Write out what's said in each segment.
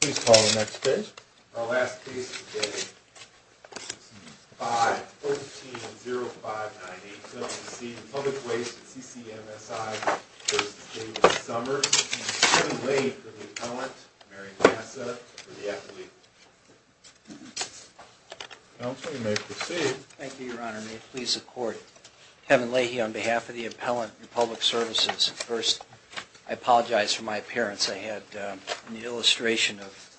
Please call the next case. Our last case today is 5-13-0598. So we'll proceed with Public Waste and CCMSI v. David Summers and Kevin Leahy for the Appellant and Mary Massa for the Affiliate. Thank you, Your Honor. May it please the Court. Kevin Leahy on behalf of the Appellant and Public Services. First, I apologize for my appearance. I had an illustration of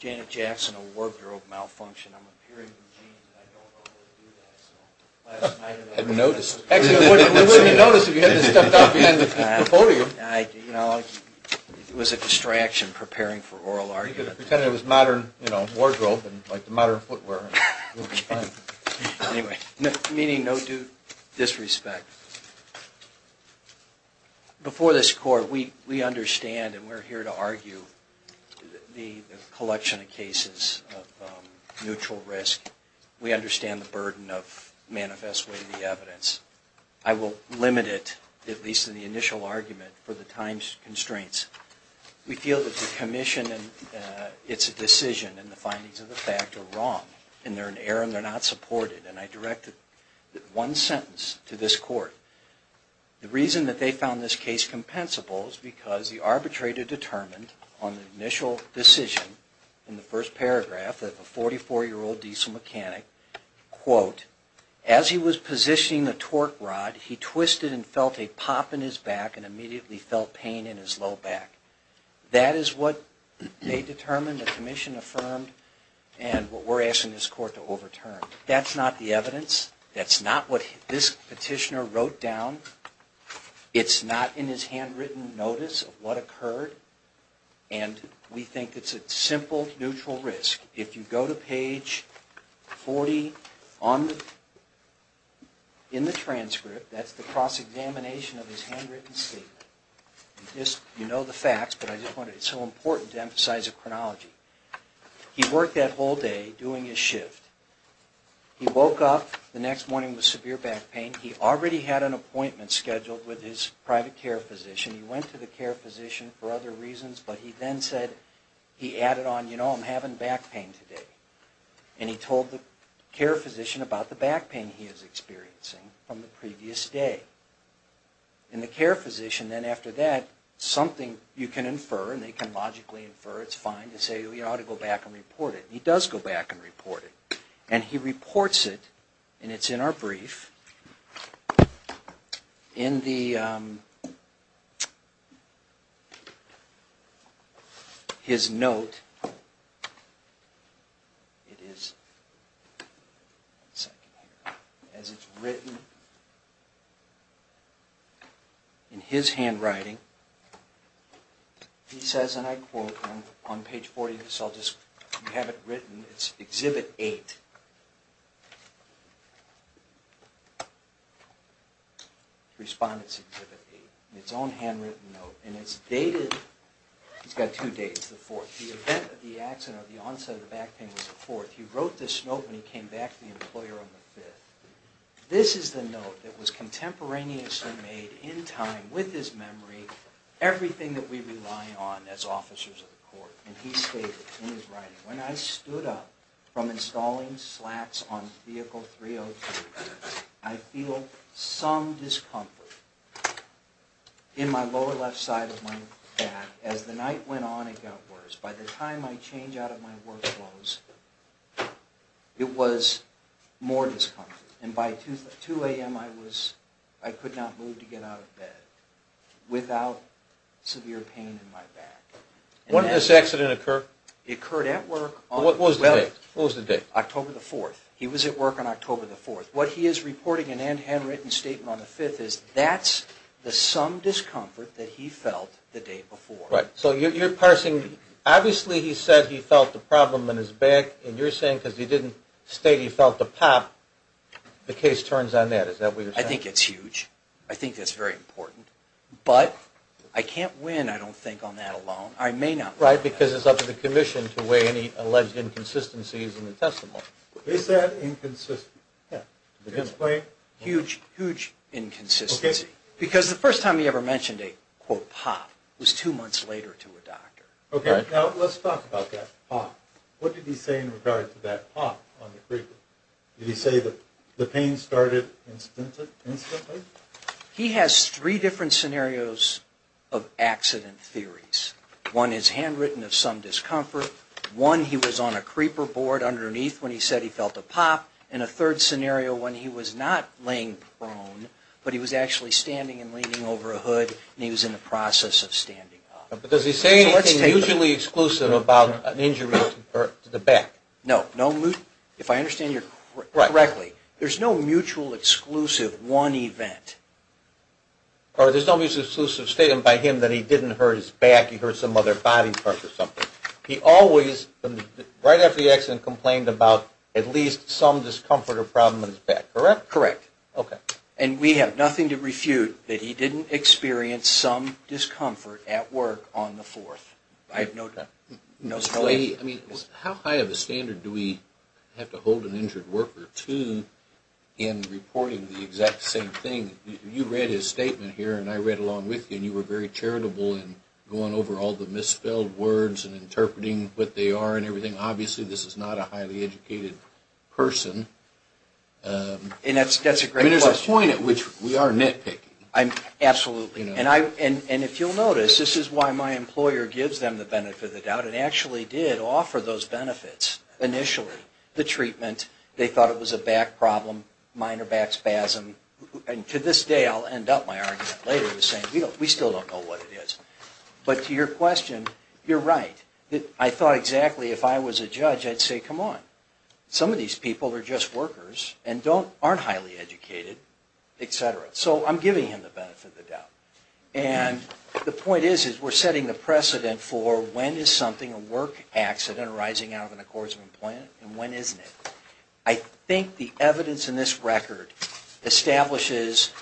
Janet Jackson, a wardrobe malfunction. I'm appearing from jeans and I don't normally do that. I hadn't noticed. It was a distraction preparing for oral argument. Pretending it was modern wardrobe, like the modern footwear. Meaning no disrespect. Before this Court, we understand and we're here to argue the collection of cases of neutral risk. We understand the burden of manifest way of the evidence. I will limit it, at least in the initial argument, for the time constraints. We feel that the Commission and its decision and the findings of the fact are wrong and they're in error and they're not supported. And I direct one sentence to this Court. The reason that they found this case compensable is because the arbitrator determined on the initial decision in the first paragraph that the 44-year-old diesel mechanic, quote, as he was positioning the torque rod, he twisted and felt a pop in his back and immediately felt pain in his low back. That is what they determined, the Commission affirmed, and what we're asking this Court to overturn. That's not the evidence. That's not what this petitioner wrote down. It's not in his handwritten notice of what occurred. And we think it's a simple neutral risk. If you go to page 40 in the transcript, that's the cross-examination of his handwritten statement. You know the facts, but it's so important to emphasize the chronology. He worked that whole day doing his shift. He woke up the next morning with severe back pain. He already had an appointment scheduled with his private care physician. He went to the care physician for other reasons, but he then said, he added on, you know, I'm having back pain today. And he told the care physician about the back pain he was experiencing from the previous day. And the care physician then, after that, something you can infer, and they can logically infer, it's fine, to say, well, you ought to go back and report it. And he does go back and report it. And he reports it, and it's in our brief, in his note. It is written in his handwriting. He says, and I quote, on page 40 of this, I'll just, you have it written, it's Exhibit 8, Respondents' Exhibit 8, in its own handwritten note. And it's dated, he's got two dates, the 4th. The event of the accident or the onset of the back pain was the 4th. He wrote this note when he came back to the employer on the 5th. This is the note that was contemporaneously made in time with his memory, everything that we rely on as officers of the court. And he stated in his writing, when I stood up from installing slats on Vehicle 302, I feel some discomfort in my lower left side of my back. As the night went on, it got worse. By the time I change out of my work clothes, it was more discomfort. And by 2 a.m., I was, I could not move to get out of bed without severe pain in my back. When did this accident occur? It occurred at work on the 12th. What was the date? October the 4th. He was at work on October the 4th. What he is reporting in a handwritten statement on the 5th is that's the some discomfort that he felt the day before. Right. So you're parsing, obviously he said he felt the problem in his back, and you're saying because he didn't state he felt the pop, the case turns on that. Is that what you're saying? I think it's huge. I think that's very important. But I can't win, I don't think, on that alone. I may not win. Right, because it's up to the commission to weigh any alleged inconsistencies in the testimony. Is that inconsistent? Yeah. Huge, huge inconsistency. Okay. Because the first time he ever mentioned a, quote, pop was two months later to a doctor. Okay, now let's talk about that pop. What did he say in regard to that pop on the creeper? Did he say that the pain started instantly? He has three different scenarios of accident theories. One is handwritten of some discomfort. One, he was on a creeper board underneath when he said he felt a pop. And a third scenario when he was not laying prone, but he was actually standing and leaning over a hood, and he was in the process of standing up. But does he say anything mutually exclusive about an injury to the back? No. If I understand you correctly, there's no mutual exclusive one event. Or there's no mutually exclusive statement by him that he didn't hurt his back, he hurt some other body part or something. He always, right after the accident, complained about at least some discomfort or problem in his back, correct? Correct. Okay. And we have nothing to refute that he didn't experience some discomfort at work on the fourth. I have no doubt. I mean, how high of a standard do we have to hold an injured worker to in reporting the exact same thing? You read his statement here, and I read along with you. And you were very charitable in going over all the misspelled words and interpreting what they are and everything. Obviously, this is not a highly educated person. And that's a great question. I mean, there's a point at which we are nitpicking. Absolutely. And if you'll notice, this is why my employer gives them the benefit of the doubt. It actually did offer those benefits initially. The treatment, they thought it was a back problem, minor back spasm. And to this day, I'll end up my argument later saying, you know, we still don't know what it is. But to your question, you're right. I thought exactly if I was a judge, I'd say, come on. Some of these people are just workers and aren't highly educated, et cetera. So I'm giving him the benefit of the doubt. And the point is we're setting the precedent for when is something, a work accident arising out of an accords of employment, and when isn't it? I think the evidence in this record establishes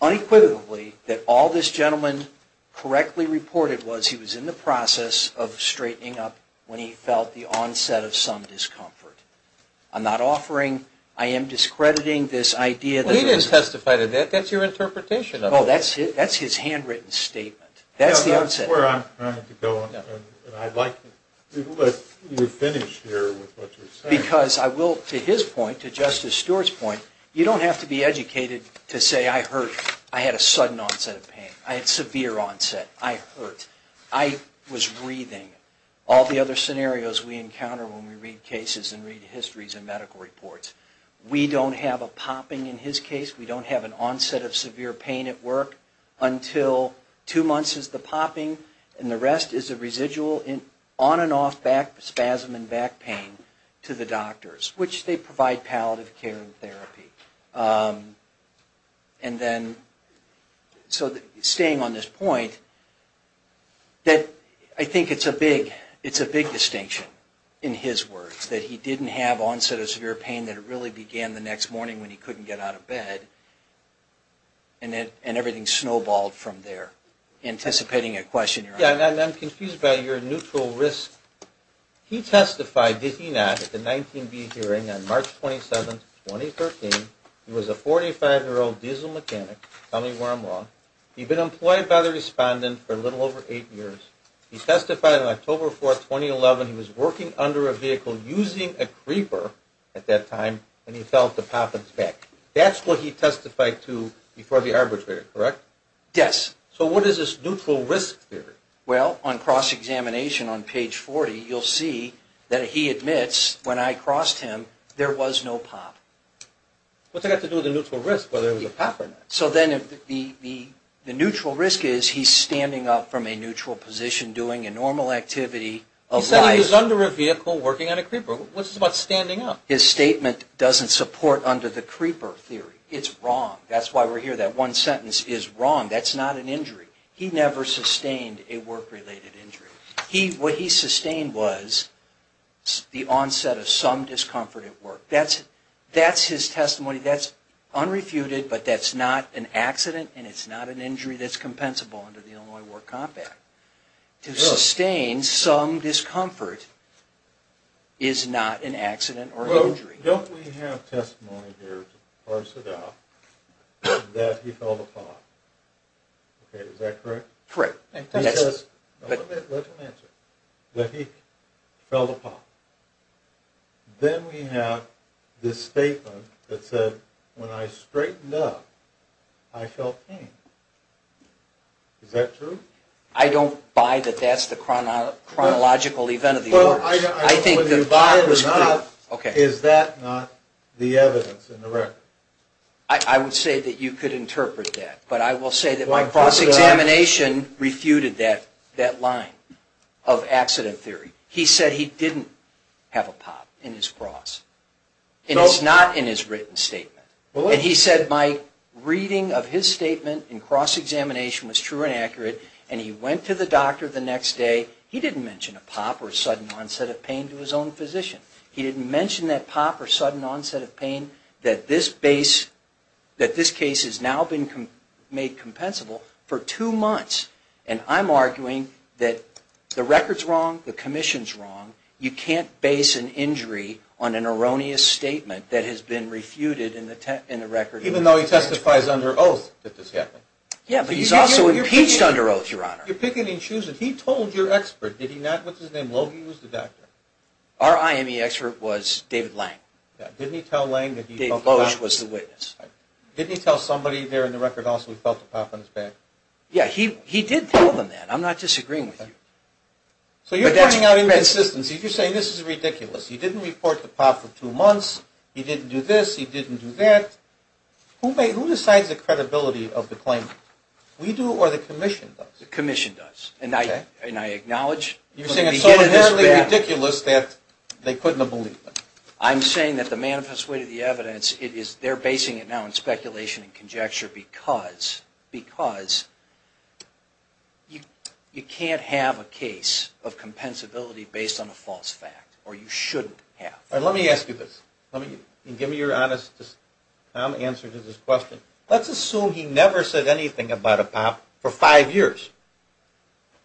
unequivocally that all this gentleman correctly reported was he was in the process of straightening up when he felt the onset of some discomfort. I'm not offering, I am discrediting this idea. He didn't testify to that. That's your interpretation of it. Oh, that's his handwritten statement. That's the onset. That's where I'm trying to go, and I'd like to let you finish here with what you're saying. Because I will, to his point, to Justice Stewart's point, you don't have to be educated to say, I hurt. I had a sudden onset of pain. I had severe onset. I hurt. I was breathing. All the other scenarios we encounter when we read cases and read histories in medical reports. We don't have a popping in his case. We don't have an onset of severe pain at work until two months is the popping, and the rest is a residual on and off spasm in back pain to the doctors, which they provide palliative care and therapy. And then, so staying on this point, that I think it's a big distinction in his words, that he didn't have onset of severe pain, that it really began the next morning when he couldn't get out of bed, and everything snowballed from there. Anticipating a question. Yeah, and I'm confused by your neutral risk. He testified, did he not, at the 19B hearing on March 27, 2013. He was a 45-year-old diesel mechanic. Tell me where I'm wrong. He'd been employed by the respondent for a little over eight years. He testified on October 4, 2011. He was working under a vehicle using a creeper at that time, and he felt a pop in his back. That's what he testified to before the arbitrary, correct? Yes. So what is this neutral risk theory? Well, on cross-examination on page 40, you'll see that he admits, when I crossed him, there was no pop. What's that got to do with the neutral risk, whether it was a pop or not? So then the neutral risk is he's standing up from a neutral position doing a normal activity of life. He said he was under a vehicle working on a creeper. What's this about standing up? His statement doesn't support under the creeper theory. It's wrong. That's why we're here. That one sentence is wrong. That's not an injury. He never sustained a work-related injury. What he sustained was the onset of some discomfort at work. That's his testimony. That's unrefuted, but that's not an accident, and it's not an injury that's compensable under the Illinois War Compact. To sustain some discomfort is not an accident or injury. Don't we have testimony here to parse it out that he felt a pop? Okay, is that correct? Correct. Let him answer. That he felt a pop. Then we have this statement that said, when I straightened up, I felt pain. Is that true? I don't buy that that's the chronological event of the emergency. I think the pop was clear. Is that not the evidence in the record? I would say that you could interpret that, but I will say that my cross-examination refuted that line of accident theory. He said he didn't have a pop in his cross, and it's not in his written statement. And he said my reading of his statement in cross-examination was true and accurate, and he went to the doctor the next day. He didn't mention a pop or sudden onset of pain to his own physician. He didn't mention that pop or sudden onset of pain that this case has now been made compensable for two months. And I'm arguing that the record's wrong, the commission's wrong. You can't base an injury on an erroneous statement that has been refuted in the record. Even though he testifies under oath that this happened. You're picking and choosing. He told your expert, did he not? What's his name? Logan was the doctor. Our IME expert was David Lang. Didn't he tell Lang that he felt a pop? Dave Loesch was the witness. Didn't he tell somebody there in the record also he felt a pop on his back? Yeah, he did tell them that. I'm not disagreeing with you. So you're pointing out inconsistencies. You're saying this is ridiculous. He didn't report the pop for two months. He didn't do this. He didn't do that. Who decides the credibility of the claimant? We do or the commission does? The commission does. Okay. And I acknowledge. You're saying it's so inherently ridiculous that they couldn't have believed it. I'm saying that the manifest way to the evidence, they're basing it now on speculation and conjecture because you can't have a case of compensability based on a false fact. Or you shouldn't have. Let me ask you this. Give me your honest answer to this question. Let's assume he never said anything about a pop for five years.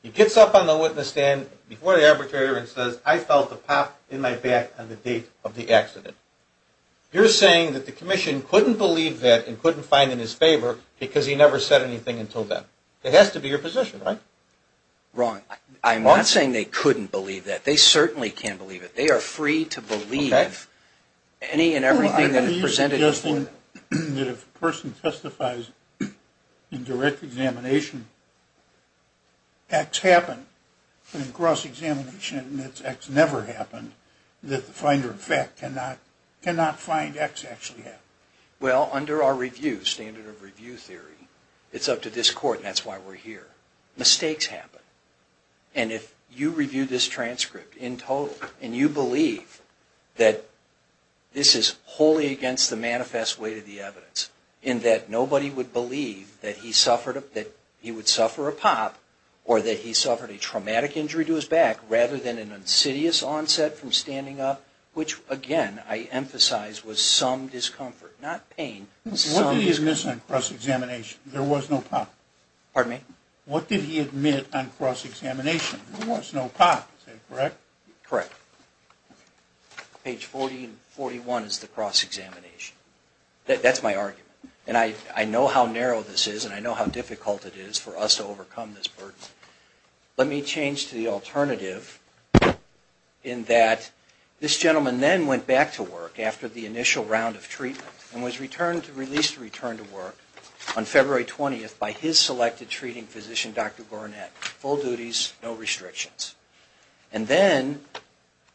He gets up on the witness stand before the arbitrator and says, I felt a pop in my back on the date of the accident. You're saying that the commission couldn't believe that and couldn't find it in his favor because he never said anything until then. It has to be your position, right? Wrong. I'm not saying they couldn't believe that. They certainly can't believe it. They are free to believe any and everything that is presented before them. If a person testifies in direct examination, X happened, but in cross-examination it's X never happened, that the finder of fact cannot find X actually happened. Well, under our review, standard of review theory, it's up to this court and that's why we're here. Mistakes happen. And if you review this transcript in total and you believe that this is wholly against the manifest weight of the evidence, in that nobody would believe that he would suffer a pop or that he suffered a traumatic injury to his back rather than an insidious onset from standing up, which, again, I emphasize was some discomfort, not pain. What did he admit on cross-examination? There was no pop. Pardon me? There was no pop. Is that correct? Correct. Page 40 and 41 is the cross-examination. That's my argument. And I know how narrow this is and I know how difficult it is for us to overcome this burden. Let me change to the alternative in that this gentleman then went back to work after the initial round of treatment and was released and returned to work on February 20th by his selected treating physician, Dr. Gornet. Full duties, no restrictions. And then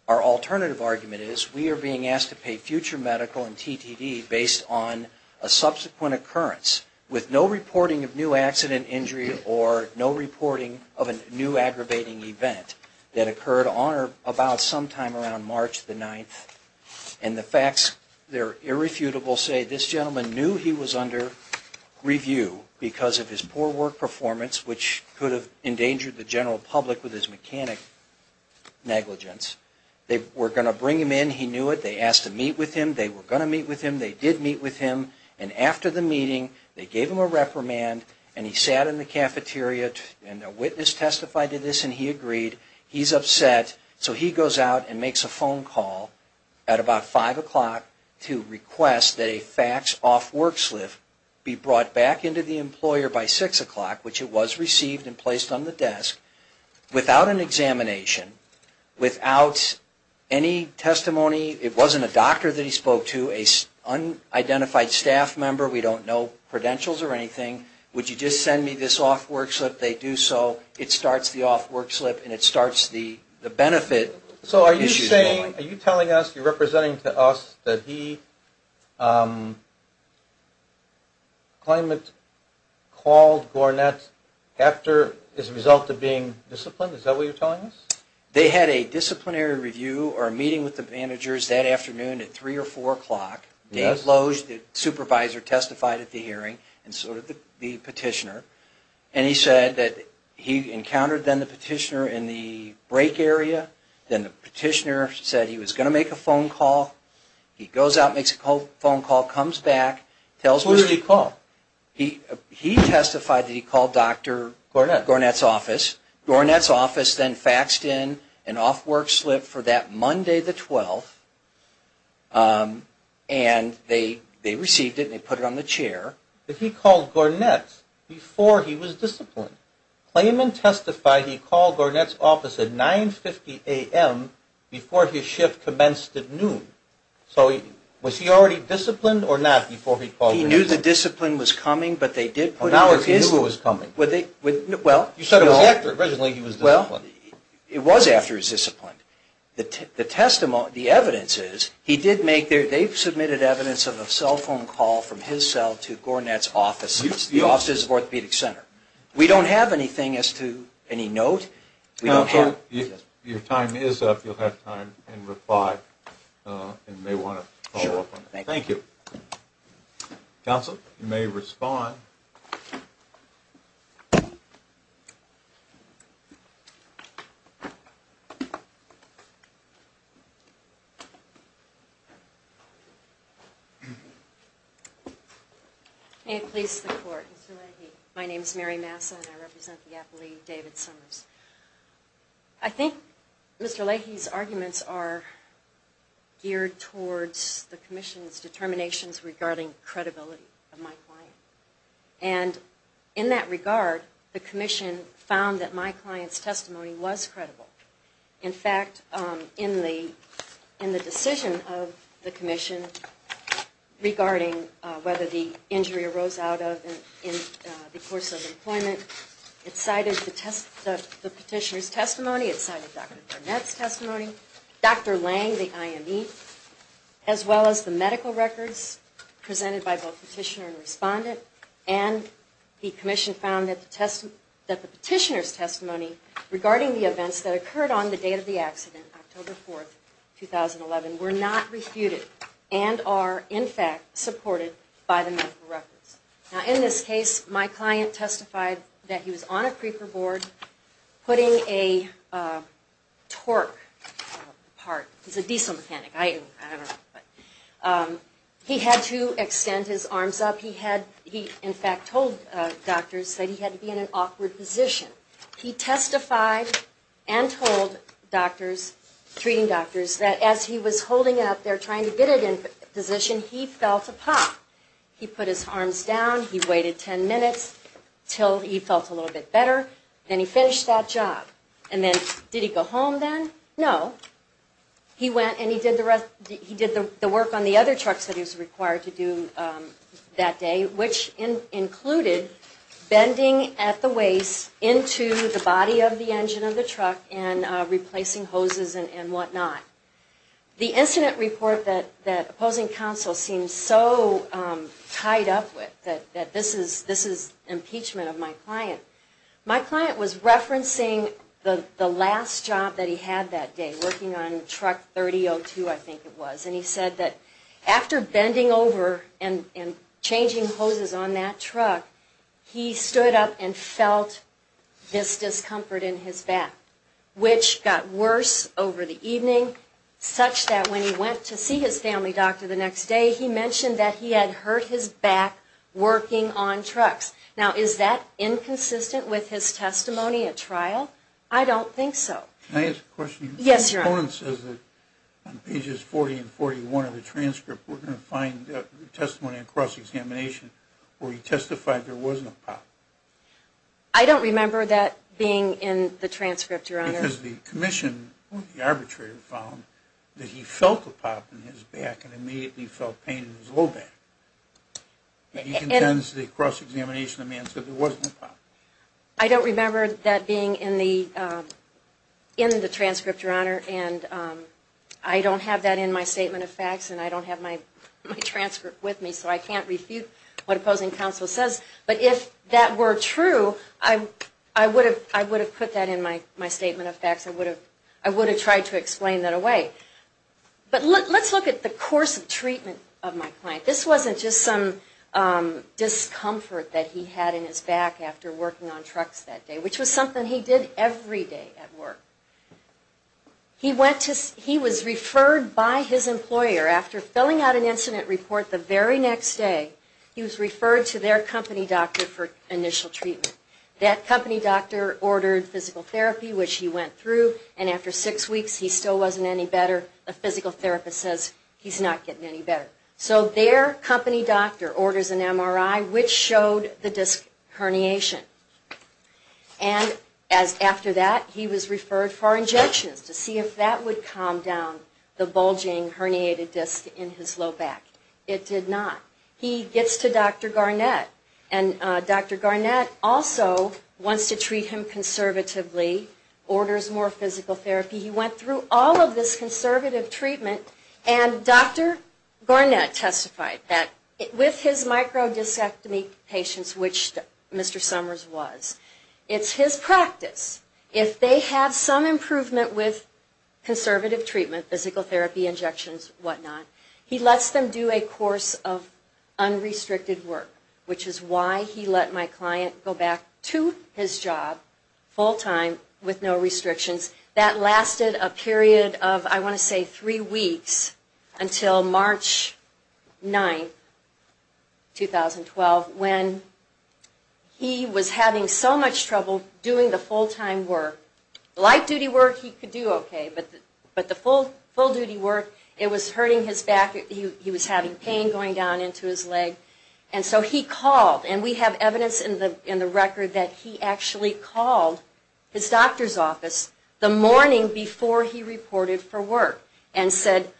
our alternative argument is we are being asked to pay future medical and TTD based on a subsequent occurrence with no reporting of new accident, injury, or no reporting of a new aggravating event that occurred about sometime around March 9th. And the facts, they're irrefutable, say this gentleman knew he was under review because of his poor work performance which could have endangered the general public with his mechanic negligence. They were going to bring him in. He knew it. They asked to meet with him. They were going to meet with him. They did meet with him. And after the meeting, they gave him a reprimand and he sat in the cafeteria and a witness testified to this and he agreed. He's upset so he goes out and makes a phone call at about 5 o'clock to request that a fax off work slip be brought back into the employer by 6 o'clock, which it was received and placed on the desk without an examination, without any testimony. It wasn't a doctor that he spoke to, an unidentified staff member. We don't know credentials or anything. Would you just send me this off work slip? They do so. It starts the off work slip and it starts the benefit issues going. Are you telling us, you're representing to us that he claimed it called Gornet after as a result of being disciplined? Is that what you're telling us? They had a disciplinary review or a meeting with the managers that afternoon at 3 or 4 o'clock. Dave Loge, the supervisor, testified at the hearing and so did the petitioner. And he said that he encountered then the petitioner in the break area. Then the petitioner said he was going to make a phone call. He goes out, makes a phone call, comes back, tells Mr. Who did he call? He testified that he called Dr. Gornet. Gornet's office. Gornet's office then faxed in an off work slip for that Monday the 12th and they received it and they put it on the chair. But he called Gornet before he was disciplined. Claimant testified he called Gornet's office at 9.50 a.m. before his shift commenced at noon. So was he already disciplined or not before he called Gornet? He knew the discipline was coming, but they did put it on his... Now he knew it was coming. Well... You said it was after. Originally he was disciplined. It was after he was disciplined. The evidence is he did make their... They've submitted evidence of a cell phone call from his cell to Gornet's offices, the offices of orthopedic center. We don't have anything as to any note. We don't have... Counsel, your time is up. You'll have time and reply and may want to follow up on that. Thank you. Counsel, you may respond. May it please the Court, Mr. Leahy. My name is Mary Massa and I represent the appellee, David Summers. I think Mr. Leahy's arguments are geared towards the commission's determinations regarding credibility of my client. And in that regard, the commission found that my client's testimony was credible. In fact, in the decision of the commission regarding whether the injury arose out of the course of employment, it cited the petitioner's testimony. It cited Dr. Gornet's testimony, Dr. Lange, the IME, as well as the medical records presented by both petitioner and respondent. And the commission found that the petitioner's testimony regarding the events that occurred on the date of the accident, October 4th, 2011, were not refuted and are, in fact, supported by the medical records. Now, in this case, my client testified that he was on a creeper board putting a torque part. He's a diesel mechanic. I don't know. He had to extend his arms up. He, in fact, told doctors that he had to be in an awkward position. He testified and told doctors, treating doctors, that as he was holding it up there trying to get it in position, he felt a pop. He put his arms down. He waited ten minutes until he felt a little bit better. Then he finished that job. And then did he go home then? No. He went and he did the work on the other trucks that he was required to do that day, which included bending at the waist into the body of the engine of the truck and replacing hoses and whatnot. The incident report that opposing counsel seemed so tied up with that this is impeachment of my client, my client was referencing the last job that he had that day, working on truck 3002, I think it was. And he said that after bending over and changing hoses on that truck, he stood up and felt this discomfort in his back, which got worse over the evening, such that when he went to see his family doctor the next day, he mentioned that he had hurt his back working on trucks. Now, is that inconsistent with his testimony at trial? I don't think so. Can I ask a question? Yes, Your Honor. The proponent says that on pages 40 and 41 of the transcript we're going to find testimony in cross-examination where he testified there wasn't a pop. I don't remember that being in the transcript, Your Honor. Because the commission or the arbitrator found that he felt a pop in his back and immediately felt pain in his low back. He contends that in cross-examination the man said there wasn't a pop. I don't remember that being in the transcript, Your Honor. And I don't have that in my statement of facts. And I don't have my transcript with me. So I can't refute what opposing counsel says. But if that were true, I would have put that in my statement of facts. I would have tried to explain that away. But let's look at the course of treatment of my client. This wasn't just some discomfort that he had in his back after working on trucks that day, which was something he did every day at work. He was referred by his employer. After filling out an incident report the very next day, he was referred to their company doctor for initial treatment. That company doctor ordered physical therapy, which he went through, and after six weeks he still wasn't any better. The physical therapist says he's not getting any better. So their company doctor orders an MRI, which showed the disc herniation. And after that he was referred for injections to see if that would calm down the bulging herniated disc in his low back. It did not. He gets to Dr. Garnett. And Dr. Garnett also wants to treat him conservatively, orders more physical therapy. He went through all of this conservative treatment. And Dr. Garnett testified that with his microdiscectomy patients, which Mr. Summers was, it's his practice if they have some improvement with conservative treatment, physical therapy, injections, whatnot, he lets them do a course of unrestricted work, which is why he let my client go back to his job full time with no restrictions. That lasted a period of, I want to say, three weeks until March 9, 2012, when he was having so much trouble doing the full time work. Light duty work he could do okay, but the full duty work, it was hurting his back, he was having pain going down into his leg. And so he called, and we have evidence in the record that he actually called his doctor's office the morning before he reported for work and said,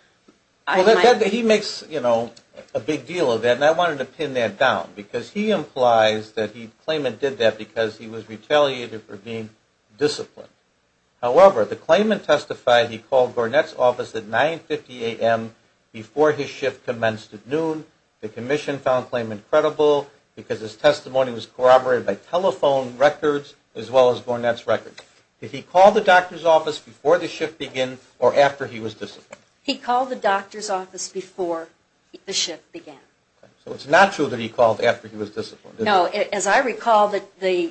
I might be... Well, he makes, you know, a big deal of that, and I wanted to pin that down. Because he implies that he, Clayman did that because he was retaliated for being disciplined. However, the Clayman testified he called Garnett's office at 9.50 a.m. before his shift commenced at noon. The commission found Clayman credible because his testimony was corroborated by telephone records as well as Garnett's records. Did he call the doctor's office before the shift began or after he was disciplined? He called the doctor's office before the shift began. So it's not true that he called after he was disciplined, is it? No. As I recall, the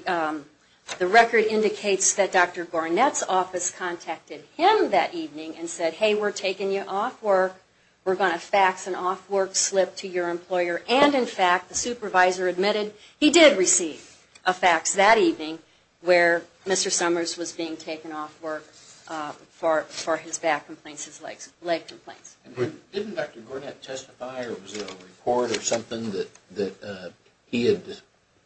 record indicates that Dr. Garnett's office contacted him that evening and said, hey, we're taking you off work. We're going to fax an off work slip to your employer. And, in fact, the supervisor admitted he did receive a fax that evening where Mr. Summers was being taken off work for his back complaints, his leg complaints. Didn't Dr. Garnett testify or was there a report or something that he had,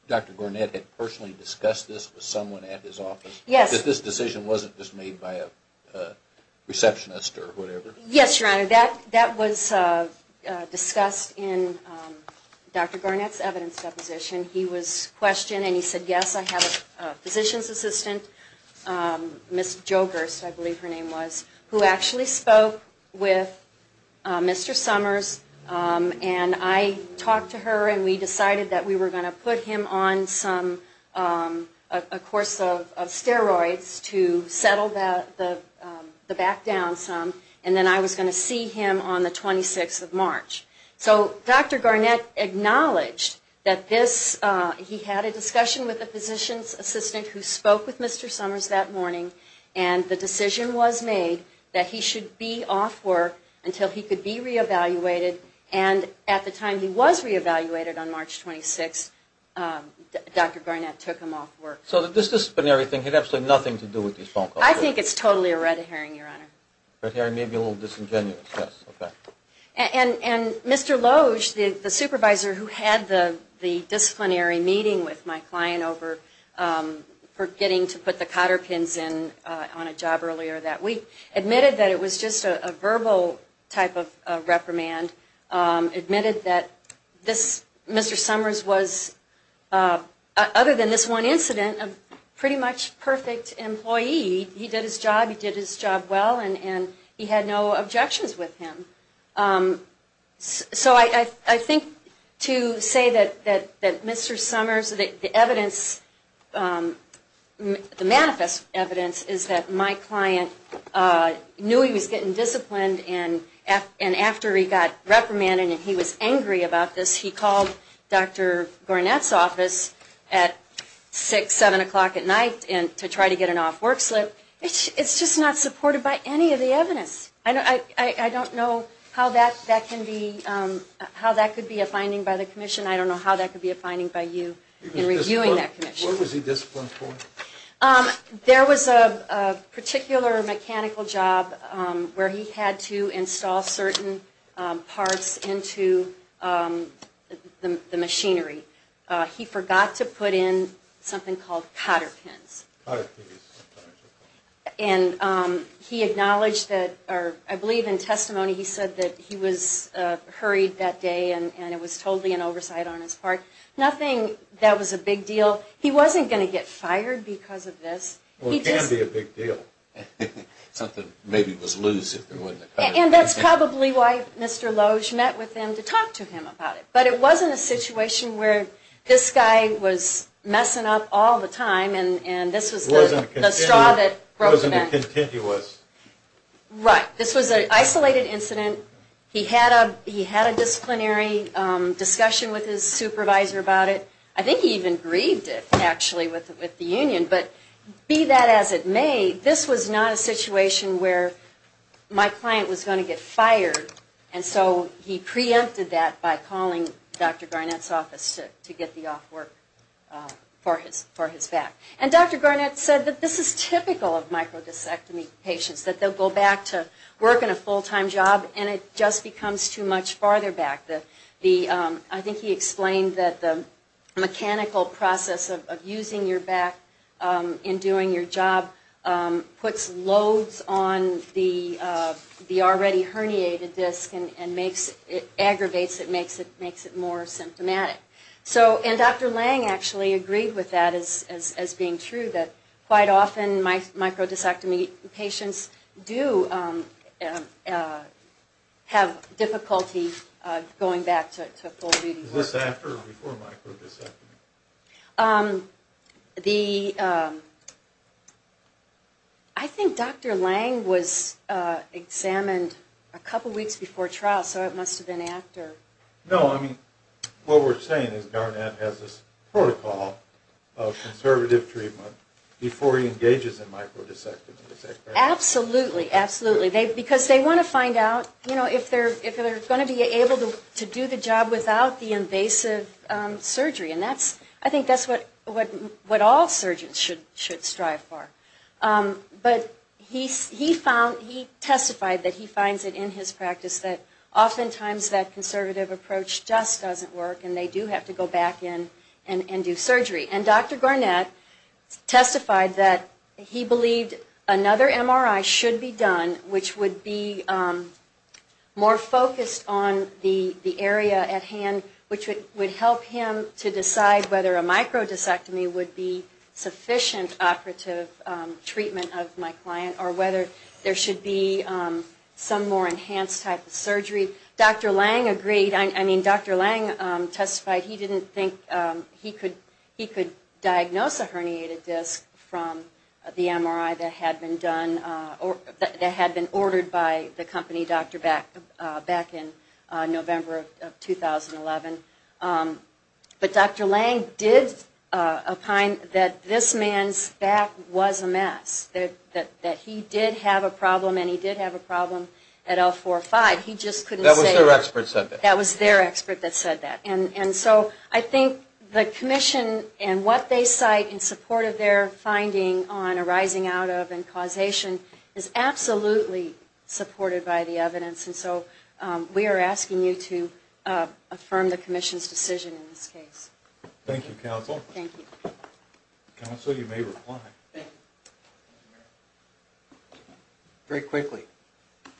Dr. Garnett had personally discussed this with someone at his office? Yes. That this decision wasn't just made by a receptionist or whatever? Yes, Your Honor. That was discussed in Dr. Garnett's evidence deposition. He was questioned and he said, yes, I have a physician's assistant, Ms. Jo Gerst I believe her name was, who actually spoke with Mr. Summers and I talked to her and we decided that we were going to put him on some, a course of steroids to settle the back down some, and then I was going to see him on the 26th of March. So Dr. Garnett acknowledged that this, he had a discussion with the physician's assistant who spoke with Mr. Summers that morning and the decision was made that he should be off work until he could be reevaluated. And at the time he was reevaluated on March 26th, Dr. Garnett took him off work. So this disciplinary thing had absolutely nothing to do with his phone call? I think it's totally a red herring, Your Honor. Red herring, maybe a little disingenuous, yes, okay. And Mr. Loge, the supervisor who had the disciplinary meeting with my client over for getting to put the cotter pins in on a job earlier that week, admitted that it was just a verbal type of reprimand, admitted that Mr. Summers was, other than this one incident, a pretty much perfect employee. He did his job, he did his job well, and he had no objections with him. So I think to say that Mr. Summers, the evidence, the manifest evidence, is that my client knew he was getting disciplined, and after he got reprimanded and he was angry about this, he called Dr. Garnett's office at 6, 7 o'clock at night to try to get an off work slip. It's just not supported by any of the evidence. I don't know how that could be a finding by the commission. I don't know how that could be a finding by you in reviewing that commission. What was he disciplined for? There was a particular mechanical job where he had to install certain parts into the machinery. He forgot to put in something called cotter pins. And he acknowledged that, or I believe in testimony he said that he was hurried that day and it was totally an oversight on his part. Nothing that was a big deal. He wasn't going to get fired because of this. Well, it can be a big deal. Something maybe was loose if there wasn't a cotter pin. And that's probably why Mr. Loge met with him to talk to him about it. But it wasn't a situation where this guy was messing up all the time and this was the straw that broke the man. It wasn't a continuous. Right. This was an isolated incident. He had a disciplinary discussion with his supervisor about it. I think he even grieved it actually with the union. But be that as it may, this was not a situation where my client was going to get fired. And so he preempted that by calling Dr. Garnett's office to get the off work for his back. And Dr. Garnett said that this is typical of microdiscectomy patients, that they'll go back to work in a full-time job and it just becomes too much farther back. I think he explained that the mechanical process of using your back in doing your job puts loads on the already herniated disc and aggravates it, makes it more symptomatic. And Dr. Lange actually agreed with that as being true, that quite often microdiscectomy patients do have difficulty going back to full-time work. Is this after or before microdiscectomy? I think Dr. Lange was examined a couple weeks before trial, so it must have been after. No, I mean, what we're saying is Garnett has this protocol of conservative treatment before he engages in microdiscectomy. Absolutely, absolutely. Because they want to find out if they're going to be able to do the job without the invasive surgery. And I think that's what all surgeons should strive for. But he testified that he finds it in his practice that oftentimes that conservative approach just doesn't work and they do have to go back in and do surgery. And Dr. Garnett testified that he believed another MRI should be done which would be more focused on the area at hand, which would help him to decide whether a microdiscectomy would be sufficient operative treatment of my client or whether there should be some more enhanced type of surgery. Dr. Lange agreed. I mean, Dr. Lange testified he didn't think he could diagnose a herniated disc from the MRI that had been ordered by the company Dr. Beck in November of 2011. But Dr. Lange did opine that this man's back was a mess, that he did have a problem and he did have a problem at L4-5. That was their expert that said that. And so I think the commission and what they cite in support of their finding on a rising out of and causation is absolutely supported by the evidence. And so we are asking you to affirm the commission's decision in this case. Thank you, counsel. Thank you. Counsel, you may reply. Thank you. Very quickly,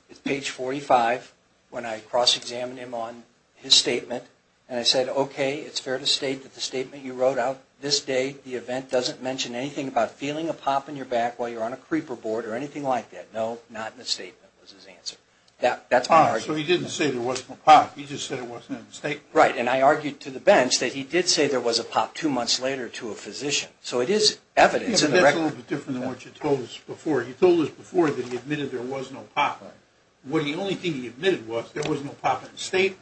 it's page 45 when I cross-examined him on his statement and I said, okay, it's fair to state that the statement you wrote out, this day the event doesn't mention anything about feeling a pop in your back while you're on a creeper board or anything like that. No, not in the statement was his answer. So he didn't say there wasn't a pop, he just said it wasn't in the statement. Right, and I argued to the bench that he did say there was a pop two months later to a physician. So it is evidence in the record. That's a little bit different than what you told us before. You told us before that he admitted there was no pop. The only thing he admitted was there was no pop in the statement.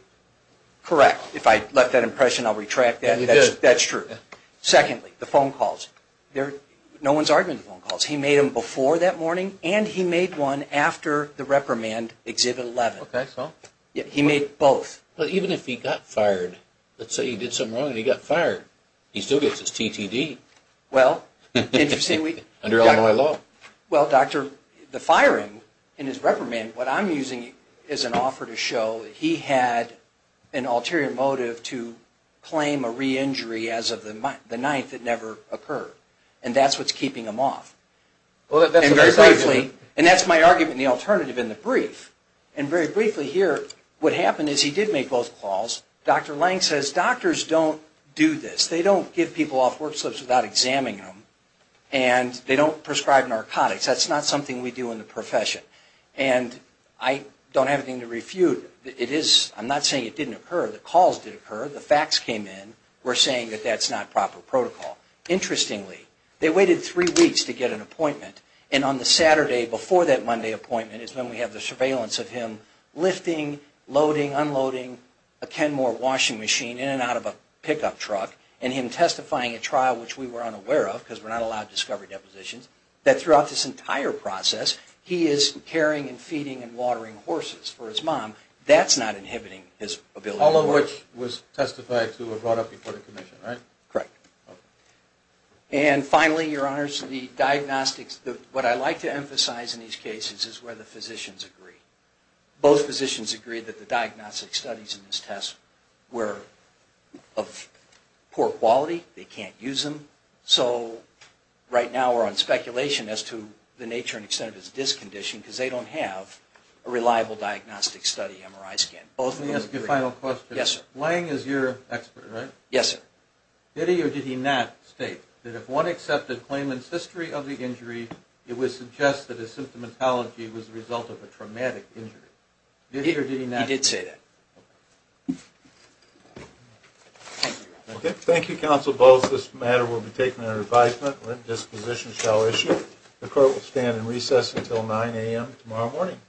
Correct. If I left that impression, I'll retract that. You did. That's true. Secondly, the phone calls. No one's arguing the phone calls. He made them before that morning and he made one after the reprimand, exhibit 11. Okay, so? He made both. But even if he got fired, let's say he did something wrong and he got fired, he still gets his TTD under Illinois law. Well, doctor, the firing and his reprimand, what I'm using is an offer to show he had an ulterior motive to claim a re-injury as of the 9th that never occurred. And that's what's keeping him off. And that's my argument and the alternative in the brief. And very briefly here, what happened is he did make both calls. Dr. Lange says doctors don't do this. They don't give people off work slips without examining them. And they don't prescribe narcotics. That's not something we do in the profession. And I don't have anything to refute. I'm not saying it didn't occur. The calls did occur. The facts came in. We're saying that that's not proper protocol. Interestingly, they waited three weeks to get an appointment. And on the Saturday before that Monday appointment is when we have the surveillance of him lifting, loading, unloading a Kenmore washing machine in and out of a pickup truck and him testifying at trial, which we were unaware of because we're not allowed discovery depositions, that throughout this entire process, he is carrying and feeding and watering horses for his mom. That's not inhibiting his ability to work. All of which was testified to or brought up before the commission, right? Correct. And finally, Your Honors, the diagnostics, what I like to emphasize in these cases is where the physicians agree. Both physicians agree that the diagnostic studies in this test were of poor quality. They can't use them. So right now we're on speculation as to the nature and extent of his discondition because they don't have a reliable diagnostic study MRI scan. Let me ask you a final question. Yes, sir. Lange is your expert, right? Yes, sir. Did he or did he not state that if one accepted Clayman's history of the injury, it would suggest that his symptomatology was the result of a traumatic injury? Did he or did he not? He did say that. Thank you. Thank you, counsel. Both this matter will be taken under advisement. Lent disposition shall issue. The court will stand in recess until 9 a.m. tomorrow morning.